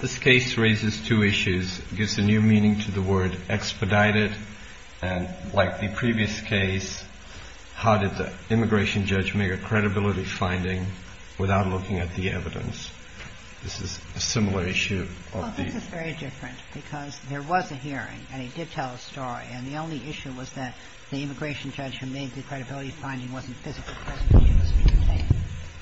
This case raises two issues. It gives a new meaning to the word expedited, and like the previous case, how did the immigration judge make a credibility finding without looking at the evidence? This is a similar issue of the — MS. GONZALES Well, this is very different, because there was a hearing, and he did tell a story, and the only issue was that the immigration judge who made the credibility finding wasn't physically present in the interview.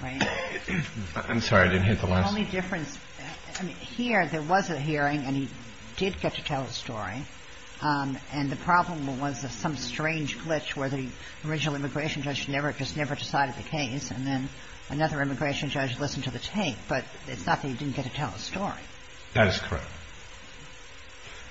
Right? MR. SINGH v. GONZALES I'm sorry. I didn't hear the last — MS. GONZALES The only difference — I mean, here, there was a hearing, and he did get to tell the story, and the problem was some strange glitch where the original immigration judge just never decided the case, and then another immigration judge listened to the tape, but it's not that he didn't get to tell the story. MR. SINGH v. GONZALES That is correct.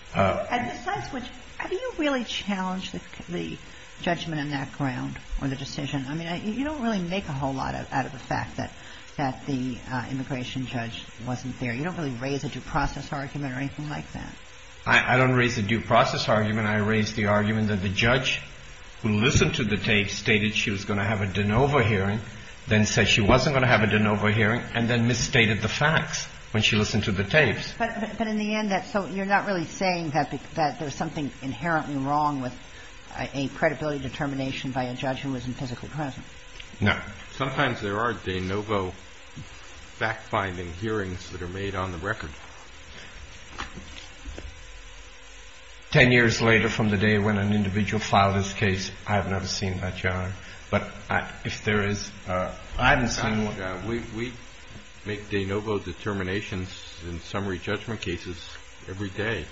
MS. GONZALES And besides which, how do you really challenge the judgment on that ground or the decision? I mean, you don't really make a whole lot out of the fact that the immigration judge wasn't there. You don't really raise a due process argument or anything like that. MR. SINGH v. GONZALES I don't raise a due process argument. I raise the argument that the judge who listened to the tape stated she was going to have a de novo hearing, then said she wasn't going to have a de novo hearing, and then misstated the facts when she listened to the tapes. MS. GONZALES But in the end, that's — so you're not really saying that there's something inherently wrong with a credibility determination by a judge who isn't physically present? MR. SINGH v. GONZALES No. Sometimes there are de novo fact-finding hearings that are made on the record. Ten years later from the day when an individual filed his case, I have never seen that challenge. But if there is a — MR. SINGH v. GONZALES I haven't seen one. We make de novo determinations in summary judgment cases every day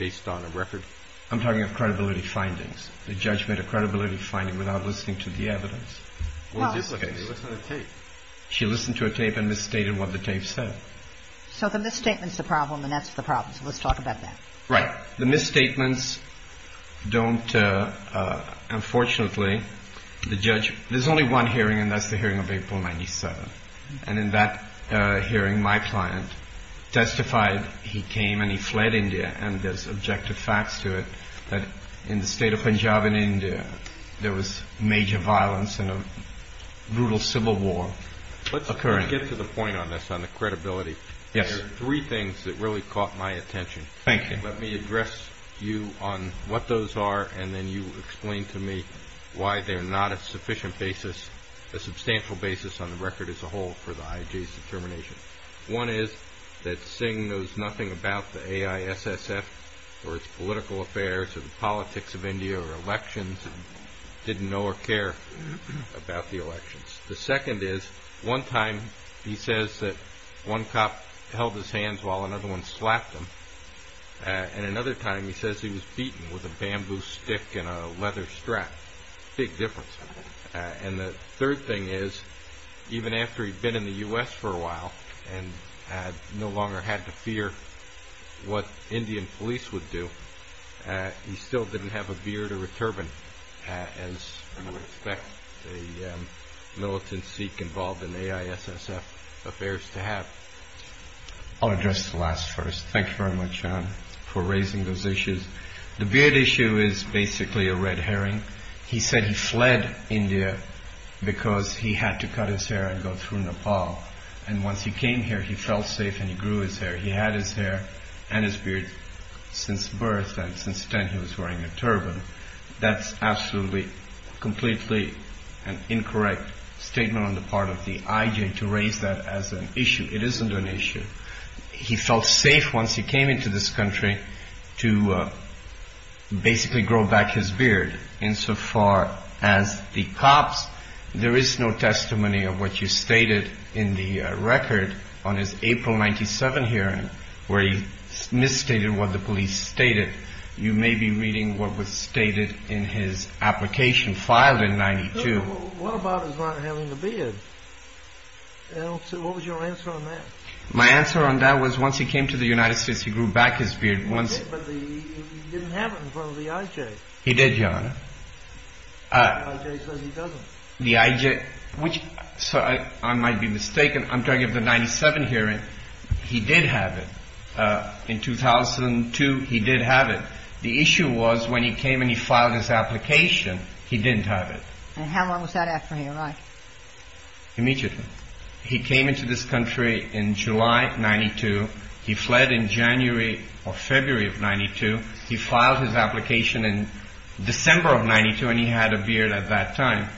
based on a record. MR. SINGH v. GONZALES I'm talking of credibility findings, the judgment of credibility finding without listening to the evidence. MS. GONZALES No. MR. SINGH v. GONZALES She listened to a tape and misstated what the tape said. MS. GONZALES So the misstatement's the problem, and that's the problem. So let's talk about MR. SINGH v. GONZALES Right. The misstatements don't — unfortunately, the judge — there's only one hearing, and that's the hearing of April 97. And in that hearing, my client testified he came and he fled India, and there's objective facts to it that in the state of Punjab in India, there was major violence and a brutal civil war occurring. I want to get to the point on this, on the credibility. MR. SINGH v. GONZALES There are three things that really caught my attention. MR. SINGH v. GONZALES Thank you. MR. SINGH v. GONZALES Let me address you on what those are, and then you explain to me why they're not a sufficient basis, a substantial basis on the record as a whole for the IJ's determination. One is that Singh knows nothing about the AISSF or its political affairs or the politics of India or elections, didn't know or care about the elections. The second is, one time he says that one cop held his hands while another one slapped him, and another time he says he was beaten with a bamboo stick and a leather strap. Big difference. And the third thing is, even after he'd been in the U.S. for a while and had no longer had to fear what Indian police would do, he still didn't have a beard or a turban, as you would think involved in AISSF affairs to have. MR. SINGH v. GONZALES I'll address the last first. Thank you very much, John, for raising those issues. The beard issue is basically a red herring. He said he fled India because he had to cut his hair and go through Nepal, and once he came here he felt safe and he grew his hair. He had his hair and his beard since birth, and since then he was wearing a turban. That's absolutely, completely an incorrect statement on the part of the IJ to raise that as an issue. It isn't an issue. He felt safe once he came into this country to basically grow back his beard. Insofar as the cops, there is no testimony of what you stated in the record on his April 97 hearing where he misstated what the police stated. You may be reading what was stated in his application filed in 92. MR. SINGH v. GONZALES What about his not having a beard? What was your answer on that? MR. SINGH v. GONZALES My answer on that was once he came to the United States he grew MR. SINGH v. GONZALES He did, but he didn't have it in front of the IJ. MR. SINGH v. GONZALES He did, Your Honor. MR. SINGH v. GONZALES The IJ says he doesn't. MR. SINGH v. GONZALES The IJ, which I might be mistaken. I'm talking about the 97 hearing. He did have it. In 2002, he did have it. The issue was when he came and he filed his application, he didn't have it. MR. SINGH v. GONZALES And how long was that after he arrived? MR. SINGH v. GONZALES Immediately. He came into this country in July 92. He fled in January or February of 92. He filed his application in December of 92 and he had a beard at that time.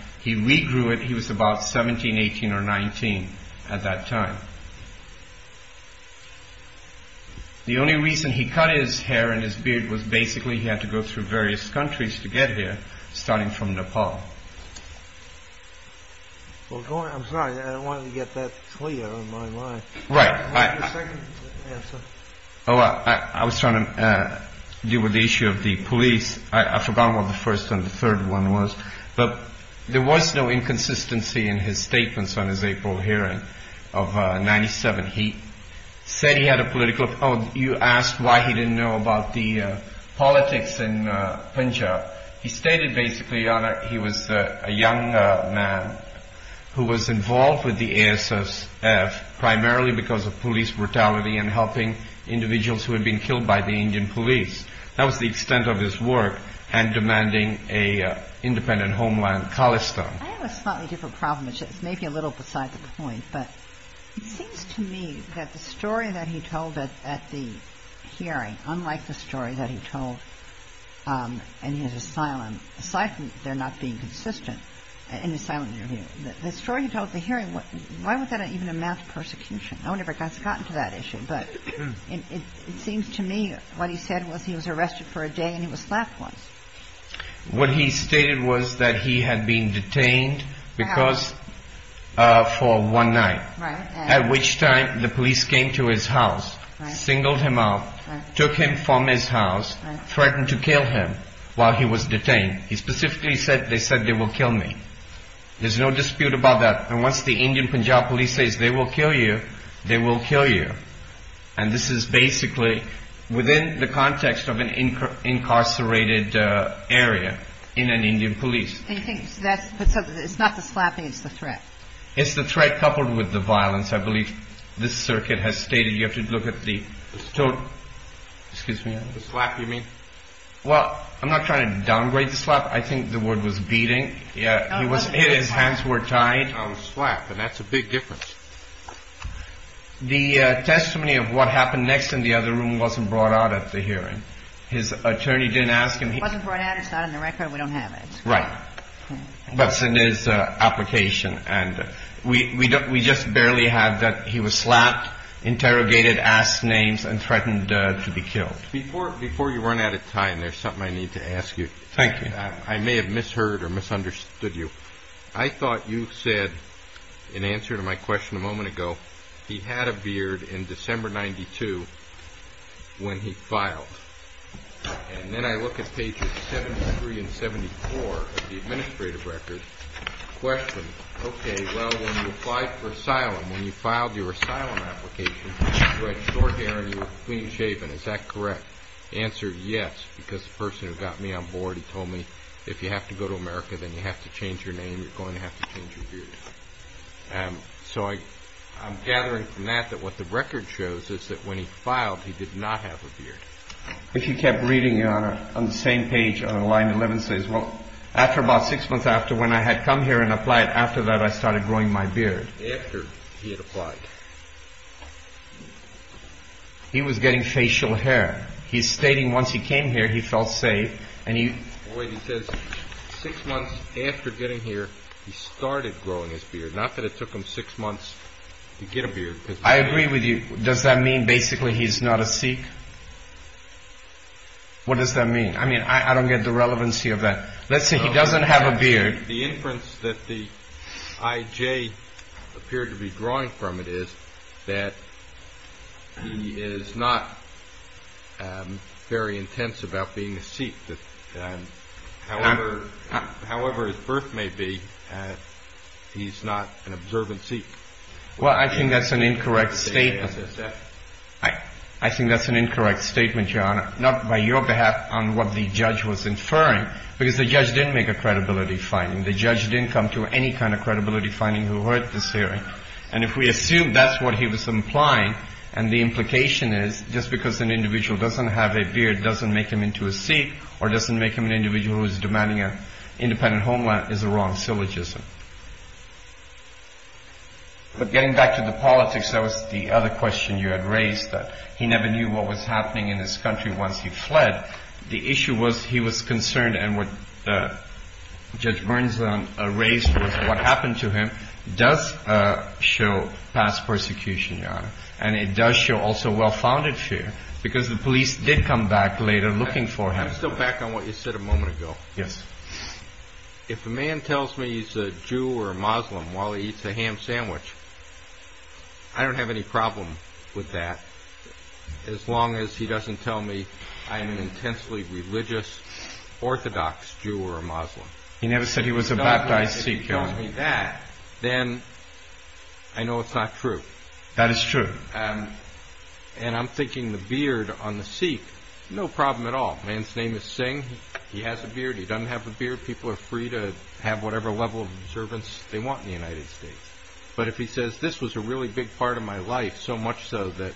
The only reason he cut his hair and his beard was basically he had to go through various countries to get here, starting from Nepal. MR. SINGH v. GONZALES I'm sorry. I don't want to get that clear on my mind. MR. SINGH v. GONZALES Right. MR. SINGH v. GONZALES I have a second answer. MR. SINGH v. GONZALES I was trying to deal with the issue of the police. I forgot what the first and the third one was, but there was no inconsistency in his statements on his April hearing of 97. He said he had a political – oh, you asked why he didn't know about the politics in Punjab. He stated basically, Your Honor, he was a young man who was involved with the ASSF primarily because of police brutality and helping individuals who had been killed by the Indian police. That was the extent of his work and demanding an independent homeland, Khalistan. MR. SINGH v. GONZALES I have a slightly different problem. It's maybe a little beside the point, but it seems to me that the story that he told at the hearing, unlike the story that he told in his asylum, aside from there not being consistent in the asylum interview, the story he told at the hearing, why would that even amount to persecution? I wonder if it's gotten to that issue, but it seems to me what he said was he was arrested for a day and he was slapped once. What he stated was that he had been detained for one night, at which time the police came to his house, singled him out, took him from his house, threatened to kill him while he was detained. He specifically said, they said they will kill me. There's no dispute about that. And once the Indian Punjab police says they will kill you, they will kill you. And this is basically within the context of an incarcerated area in an Indian police. MS. GONZALES And you think it's not the slapping, it's the threat? MR. SINGH It's the threat coupled with the violence. I believe this circuit has stated you have to look at the total. Excuse me. MR. GONZALES The slap, you mean? MR. SINGH Well, I'm not trying to downgrade the slap. I think the word was beating. MS. GONZALES No, it wasn't. MR. SINGH He was hit, his hands were tied. MR. GONZALES I was slapped, and that's a big difference. MR. SINGH The testimony of what happened next in the other room wasn't brought out at the hearing. His attorney didn't ask him. MS. GONZALES It wasn't brought out. It's not in the record. We don't have it. MR. SINGH Right. But it's in his application. And we just barely had that he was slapped, interrogated, asked names, and threatened to be killed. MR. GONZALES Before you run out of time, there's something I need to ask you. MR. SINGH Thank you. MR. SINGH I may have misheard or misunderstood you. I thought you said, in answer to my question a moment ago, he had a beard in December 1992 when he filed. And then I look at pages 73 and 74 of the administrative record, question, okay, well, when you applied for asylum, when you filed your asylum application, you had short hair and you were clean-shaven. Is that correct? The answer is yes, because the person who got me on board, he told me, if you have to go to America, then you have to change your name. You're going to have to change your beard. So I'm gathering from that that what the record shows is that when he filed, he did not have a beard. MR. GONZALES If you kept reading on the same page on the line, the 11th says, well, after about six months after when I had come here and applied, after that I started growing my beard. MR. SINGH After he had applied. MR. GONZALES He was getting facial hair. He's stating once he came here, he felt safe. MR. SINGH He says six months after getting here, he started growing his beard. Not that it took him six months to get a beard. MR. GONZALES I agree with you. Does that mean basically he's not a Sikh? What does that mean? I mean, I don't get the relevancy of that. Let's say he doesn't have a beard. I think the inference that the IJ appeared to be drawing from it is that he is not very intense about being a Sikh. However his birth may be, he's not an observant Sikh. MR. SINGH Well, I think that's an incorrect statement. I think that's an incorrect statement, Your Honor, not by your behalf on what the judge was inferring, because the judge didn't make a credibility finding. The judge didn't come to any kind of credibility finding who heard this hearing. And if we assume that's what he was implying and the implication is just because an individual doesn't have a beard doesn't make him into a Sikh or doesn't make him an individual who is demanding an independent homeland is a wrong syllogism. But getting back to the politics, that was the other question you had raised, that he never knew what was happening in this country once he fled. The issue was he was concerned and what Judge Burns raised was what happened to him does show past persecution, Your Honor. And it does show also well-founded fear, because the police did come back later looking for him. JUDGE LEBEN I'm still back on what you said a moment ago. MR. SINGH Yes. JUDGE LEBEN If a man tells me he's a Jew or a Muslim while he eats a ham sandwich, I don't have any problem with that as long as he doesn't tell me I'm an intensely religious Orthodox Jew or a Muslim. MR. SINGH He never said he was a baptized Sikh, Your Honor. JUDGE LEBEN If he tells me that, then I know it's not true. MR. SINGH That is true. JUDGE LEBEN And I'm thinking the beard on the Sikh, no problem at all. A man's name is Singh. He has a beard. He doesn't have a beard. People are free to have whatever level of observance they want in the United States. But if he says this was a really big part of my life, so much so that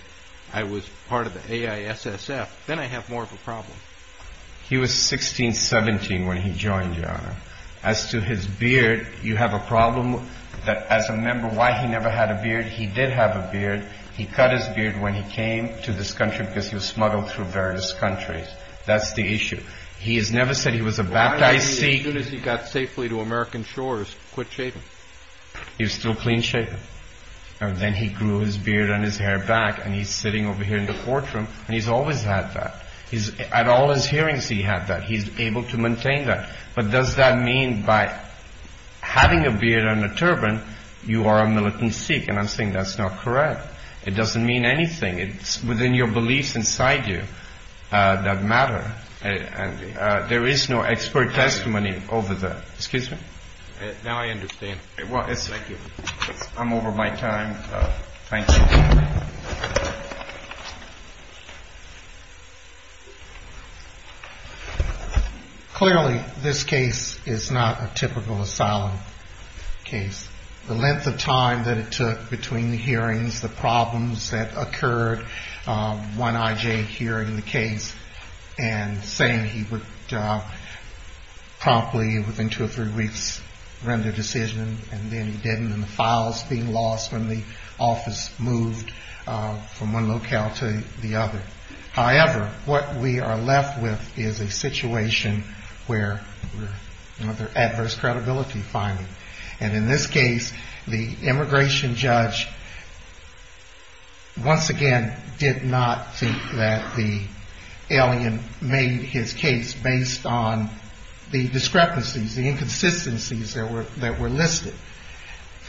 I was part of the AISSF, then I have more of a problem. MR. SINGH He was 16, 17 when he joined, Your Honor. As to his beard, you have a problem that as a member, why he never had a beard. He did have a beard. He cut his beard when he came to this country because he was smuggled through various countries. That's the issue. He has never said he was a baptized Sikh. JUDGE LEBEN Why did he, as soon as he got safely to American shores, quit shaving? MR. SINGH He was still clean shaven. And then he grew his beard and his hair back, and he's always had that. At all his hearings, he had that. He's able to maintain that. But does that mean by having a beard and a turban, you are a militant Sikh? And I think that's not correct. It doesn't mean anything. It's within your beliefs inside you that matter. And there is no expert testimony over that. Excuse me? MR. SINGH Now I understand. Thank you. I'm over my time. Thank you. MR. GATES Clearly, this case is not a typical asylum case. The length of time that it took between the hearings, the problems that occurred, one I.J. hearing the case and saying he would promptly, within two or three weeks, render decision, and then he didn't, and the files being lost when the office moved from one locale to the other. However, what we are left with is a situation where there's adverse credibility finding. And in this case, the immigration judge, once again, did not think that the alien made his case based on the discrepancies, the inconsistencies that were listed.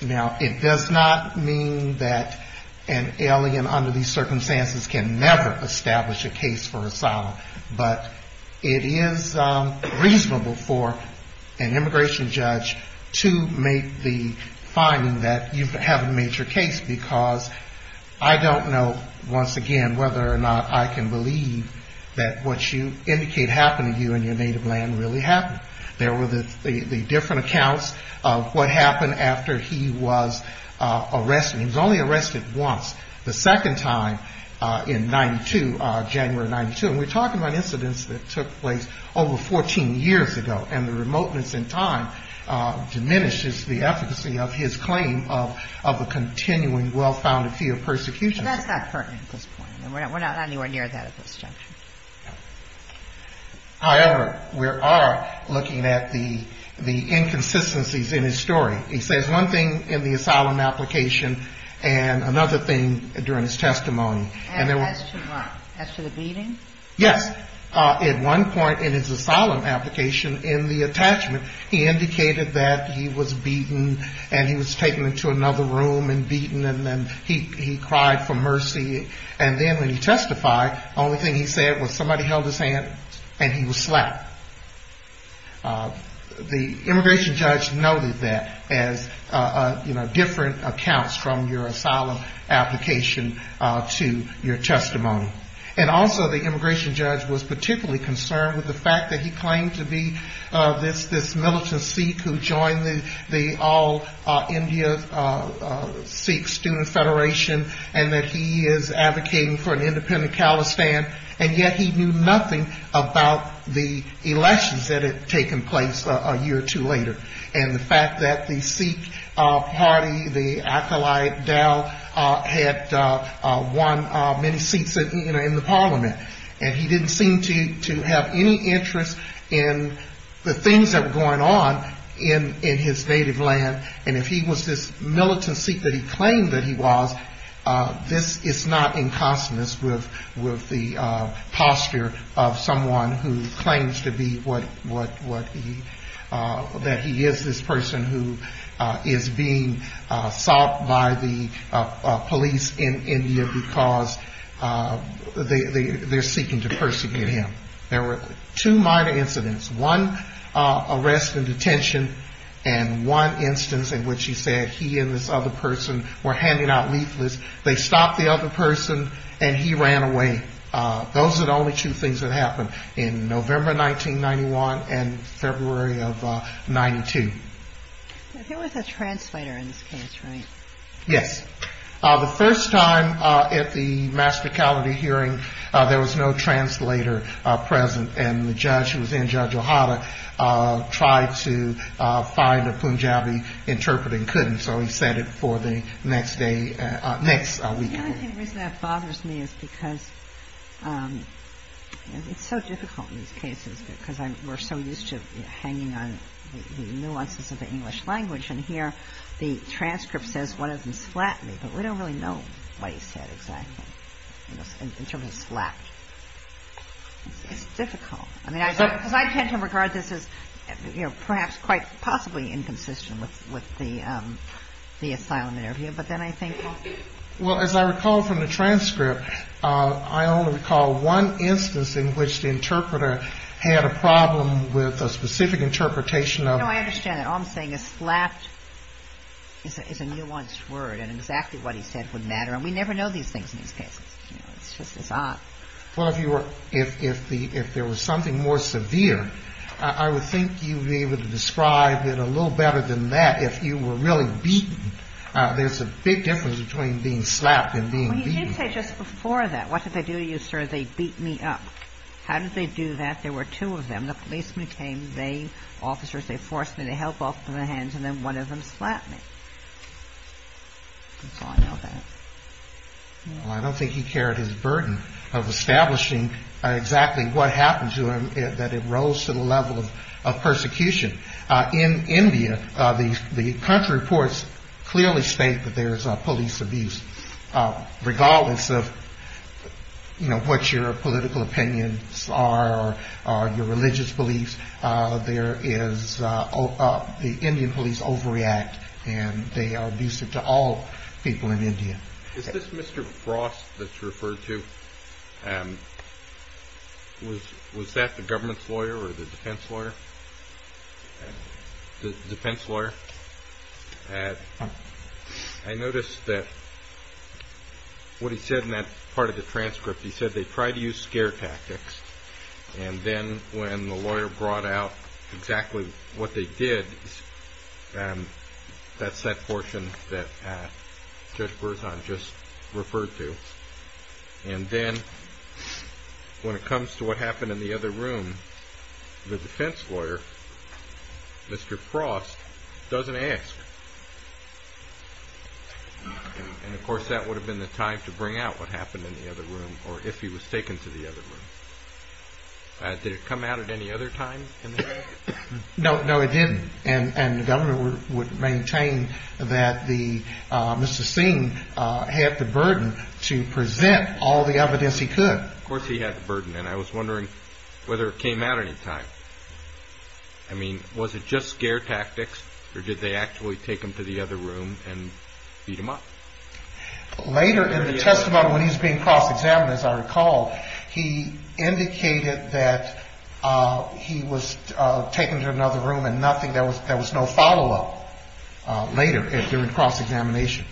Now, it does not mean that an alien under these circumstances can never establish a case for asylum. But it is reasonable for an immigration judge to make the finding that you haven't made your case, because I don't know, once again, whether or not I can believe that what you indicate happened to you in your native land really happened. There were the different accounts of what happened after he was arrested. He was only arrested once, the second time in 1992, January of 1992. And we're talking about incidents that took place over 14 years ago. And the remoteness in time diminishes the efficacy of his claim of a continuing well-founded fear of persecution. And that's not pertinent at this point. We're not anywhere near that at this juncture. However, we are looking at the inconsistencies in his story. He says one thing in the asylum application and another thing during his testimony. And as to what? As to the beating? Yes. At one point in his asylum application, in the attachment, he indicated that he was on mercy. And then when he testified, the only thing he said was somebody held his hand and he was slapped. The immigration judge noted that as different accounts from your asylum application to your testimony. And also the immigration judge was particularly concerned with the fact that he claimed to be this militant Sikh who joined the All-India Sikh Student Federation and that he is advocating for an independent Khalistan. And yet he knew nothing about the elections that had taken place a year or two later. And the fact that the Sikh party, the Acolyte Dal, had won many seats in the parliament. And he didn't seem to have any interest in the things that were going on in his native homeland. And if he was this militant Sikh that he claimed that he was, this is not inconstant with the posture of someone who claims to be what he, that he is this person who is being sought by the police in India because they are seeking to persecute him. There were two minor incidents, one arrest in detention and one instance in which he said he and this other person were handing out leaflets. They stopped the other person and he ran away. Those are the only two things that happened in November 1991 and February of 92. Yes. The first time at the Master Calvary hearing, there was no translator. And the judge who was in, Judge O'Hara, tried to find a Punjabi interpreter and couldn't. So he said it for the next day, next week. The only reason that bothers me is because it's so difficult in these cases because we're so used to hanging on the nuances of the English language. And here the transcript says one of them slapped me, but we don't really know what he said exactly in terms of slap. It's difficult. I mean, because I tend to regard this as, you know, perhaps quite possibly inconsistent with the asylum interview. But then I think... Well, as I recall from the transcript, I only recall one instance in which the interpreter had a problem with a specific interpretation of... No, I understand that. All I'm saying is slapped is a nuanced word and exactly what he said would matter. And we never know these things in these cases. It's odd. Well, if there was something more severe, I would think you'd be able to describe it a little better than that if you were really beaten. There's a big difference between being slapped and being beaten. Well, he did say just before that, what did they do to you, sir? They beat me up. How did they do that? There were two of them. The policemen came. They, officers, they forced me to help off with their hands. And then one of them slapped me. Well, I don't think he carried his burden of establishing exactly what happened to him that it rose to the level of persecution. In India, the country reports clearly state that there is police abuse, regardless of, you know, what your political opinions are or your religious beliefs. There is the Indian police overreact and they are abusive to all people in India. Is this Mr. Frost that you referred to? Was that the government's lawyer or the defense lawyer? The defense lawyer. I noticed that what he said in that part of the transcript, he said they tried to use scare tactics. And then when the lawyer brought out exactly what they did, that's that portion that Judge Berzon just referred to. And then when it comes to what happened in the other room, the defense lawyer, Mr. Frost, doesn't ask. And of course, that would have been the time to bring out what happened in the other room or if he was taken to the other room. Did it come out at any other time? No, no, it didn't. And the governor would maintain that Mr. Singh had the burden to present all the evidence he could. Of course he had the burden. And I was wondering whether it came out any time. I mean, was it just scare tactics or did they actually take him to the other room and beat him up? Later in the testimony, when he's being cross-examined, as I recall, he indicated that he was taken to another room and there was no follow-up later during cross-examination.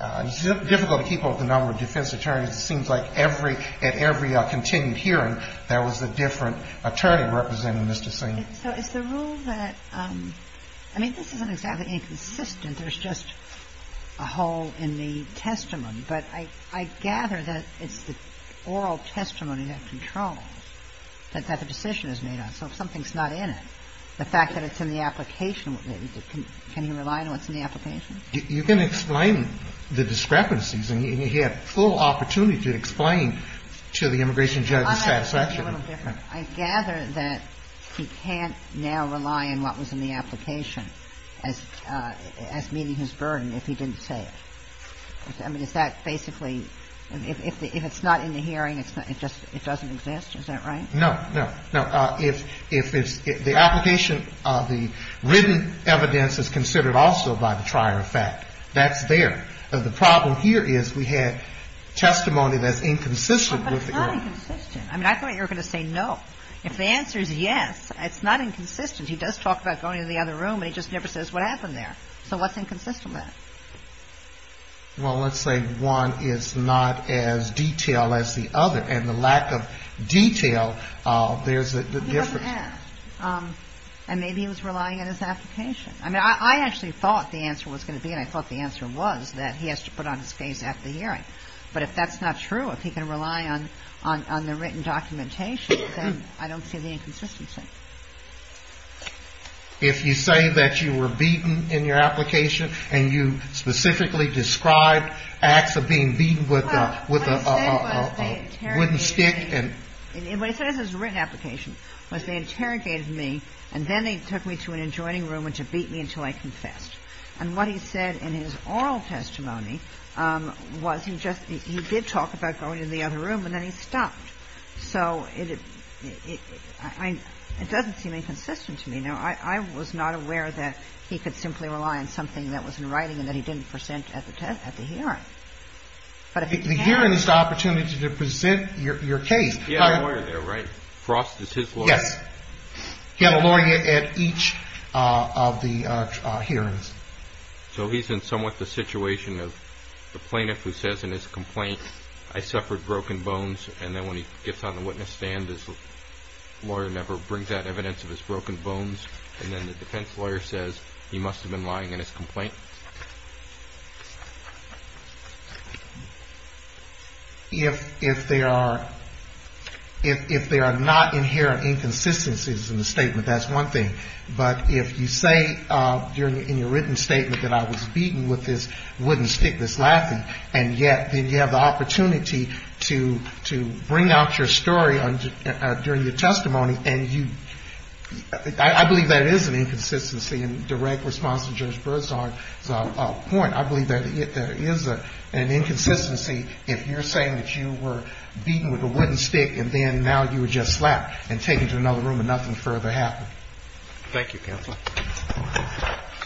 It's difficult to keep up with the number of defense attorneys. It seems like at every continued hearing, there was a different attorney representing Mr. Singh. So is the rule that – I mean, this isn't exactly inconsistent, there's just a hole in the testimony. But I gather that it's the oral testimony that controls, that the decision is made on. So if something's not in it, the fact that it's in the application, can he rely on what's in the application? You can explain the discrepancies, and he had full opportunity to explain to the immigration judge's satisfaction. I gather that he can't now rely on what was in the application as meeting his burden if he didn't say it. I mean, is that basically – if it's not in the hearing, it doesn't exist, is that right? No, no. If it's – the application, the written evidence is considered also by the trier. In fact, that's there. The problem here is we had testimony that's inconsistent with the – But it's not inconsistent. I mean, I thought you were going to say no. If the answer is yes, it's not inconsistent. He does talk about going to the other room, and he just never says what happened there. So what's inconsistent there? Well, let's say one is not as detailed as the other, and the lack of detail, there's a difference. He doesn't ask. And maybe he was relying on his application. I mean, I actually thought the answer was going to be – and I thought the answer was that he has to put on his face after the hearing. But if that's not true, if he can rely on the written documentation, then I don't see the inconsistency. If you say that you were beaten in your application, and you specifically described acts of being beaten with a wooden stick and – And what he said in his oral testimony was he just – he did talk about going to the other room, and then he stopped. So it – it doesn't seem inconsistent to me. Now, I was not aware that he could simply rely on something that was in writing and that he didn't present at the hearing. But if he can't – The hearing is the opportunity to present your case. He had a lawyer there, right? Frost is his lawyer. Yes. He had a lawyer at each of the hearings. So he's in somewhat the situation of the plaintiff who says in his complaint, I suffered broken bones, and then when he gets on the witness stand, his lawyer never brings out evidence of his broken bones. And then the defense lawyer says he must have been lying in his complaint. If – if there are – if there are not inherent inconsistencies in the statement, that's one thing. But if you say during – in your written statement that I was beaten with this wooden stick that's laughing, and yet then you have the opportunity to – to bring out your story during your testimony, and you – I believe that is an inconsistency in direct response to Judge Broussard. So a point, I believe that it is an inconsistency if you're saying that you were beaten with a wooden stick and then now you were just slapped and taken to another room and nothing further happened. Thank you, Counselor.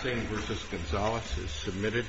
Senator Gonzales is submitted.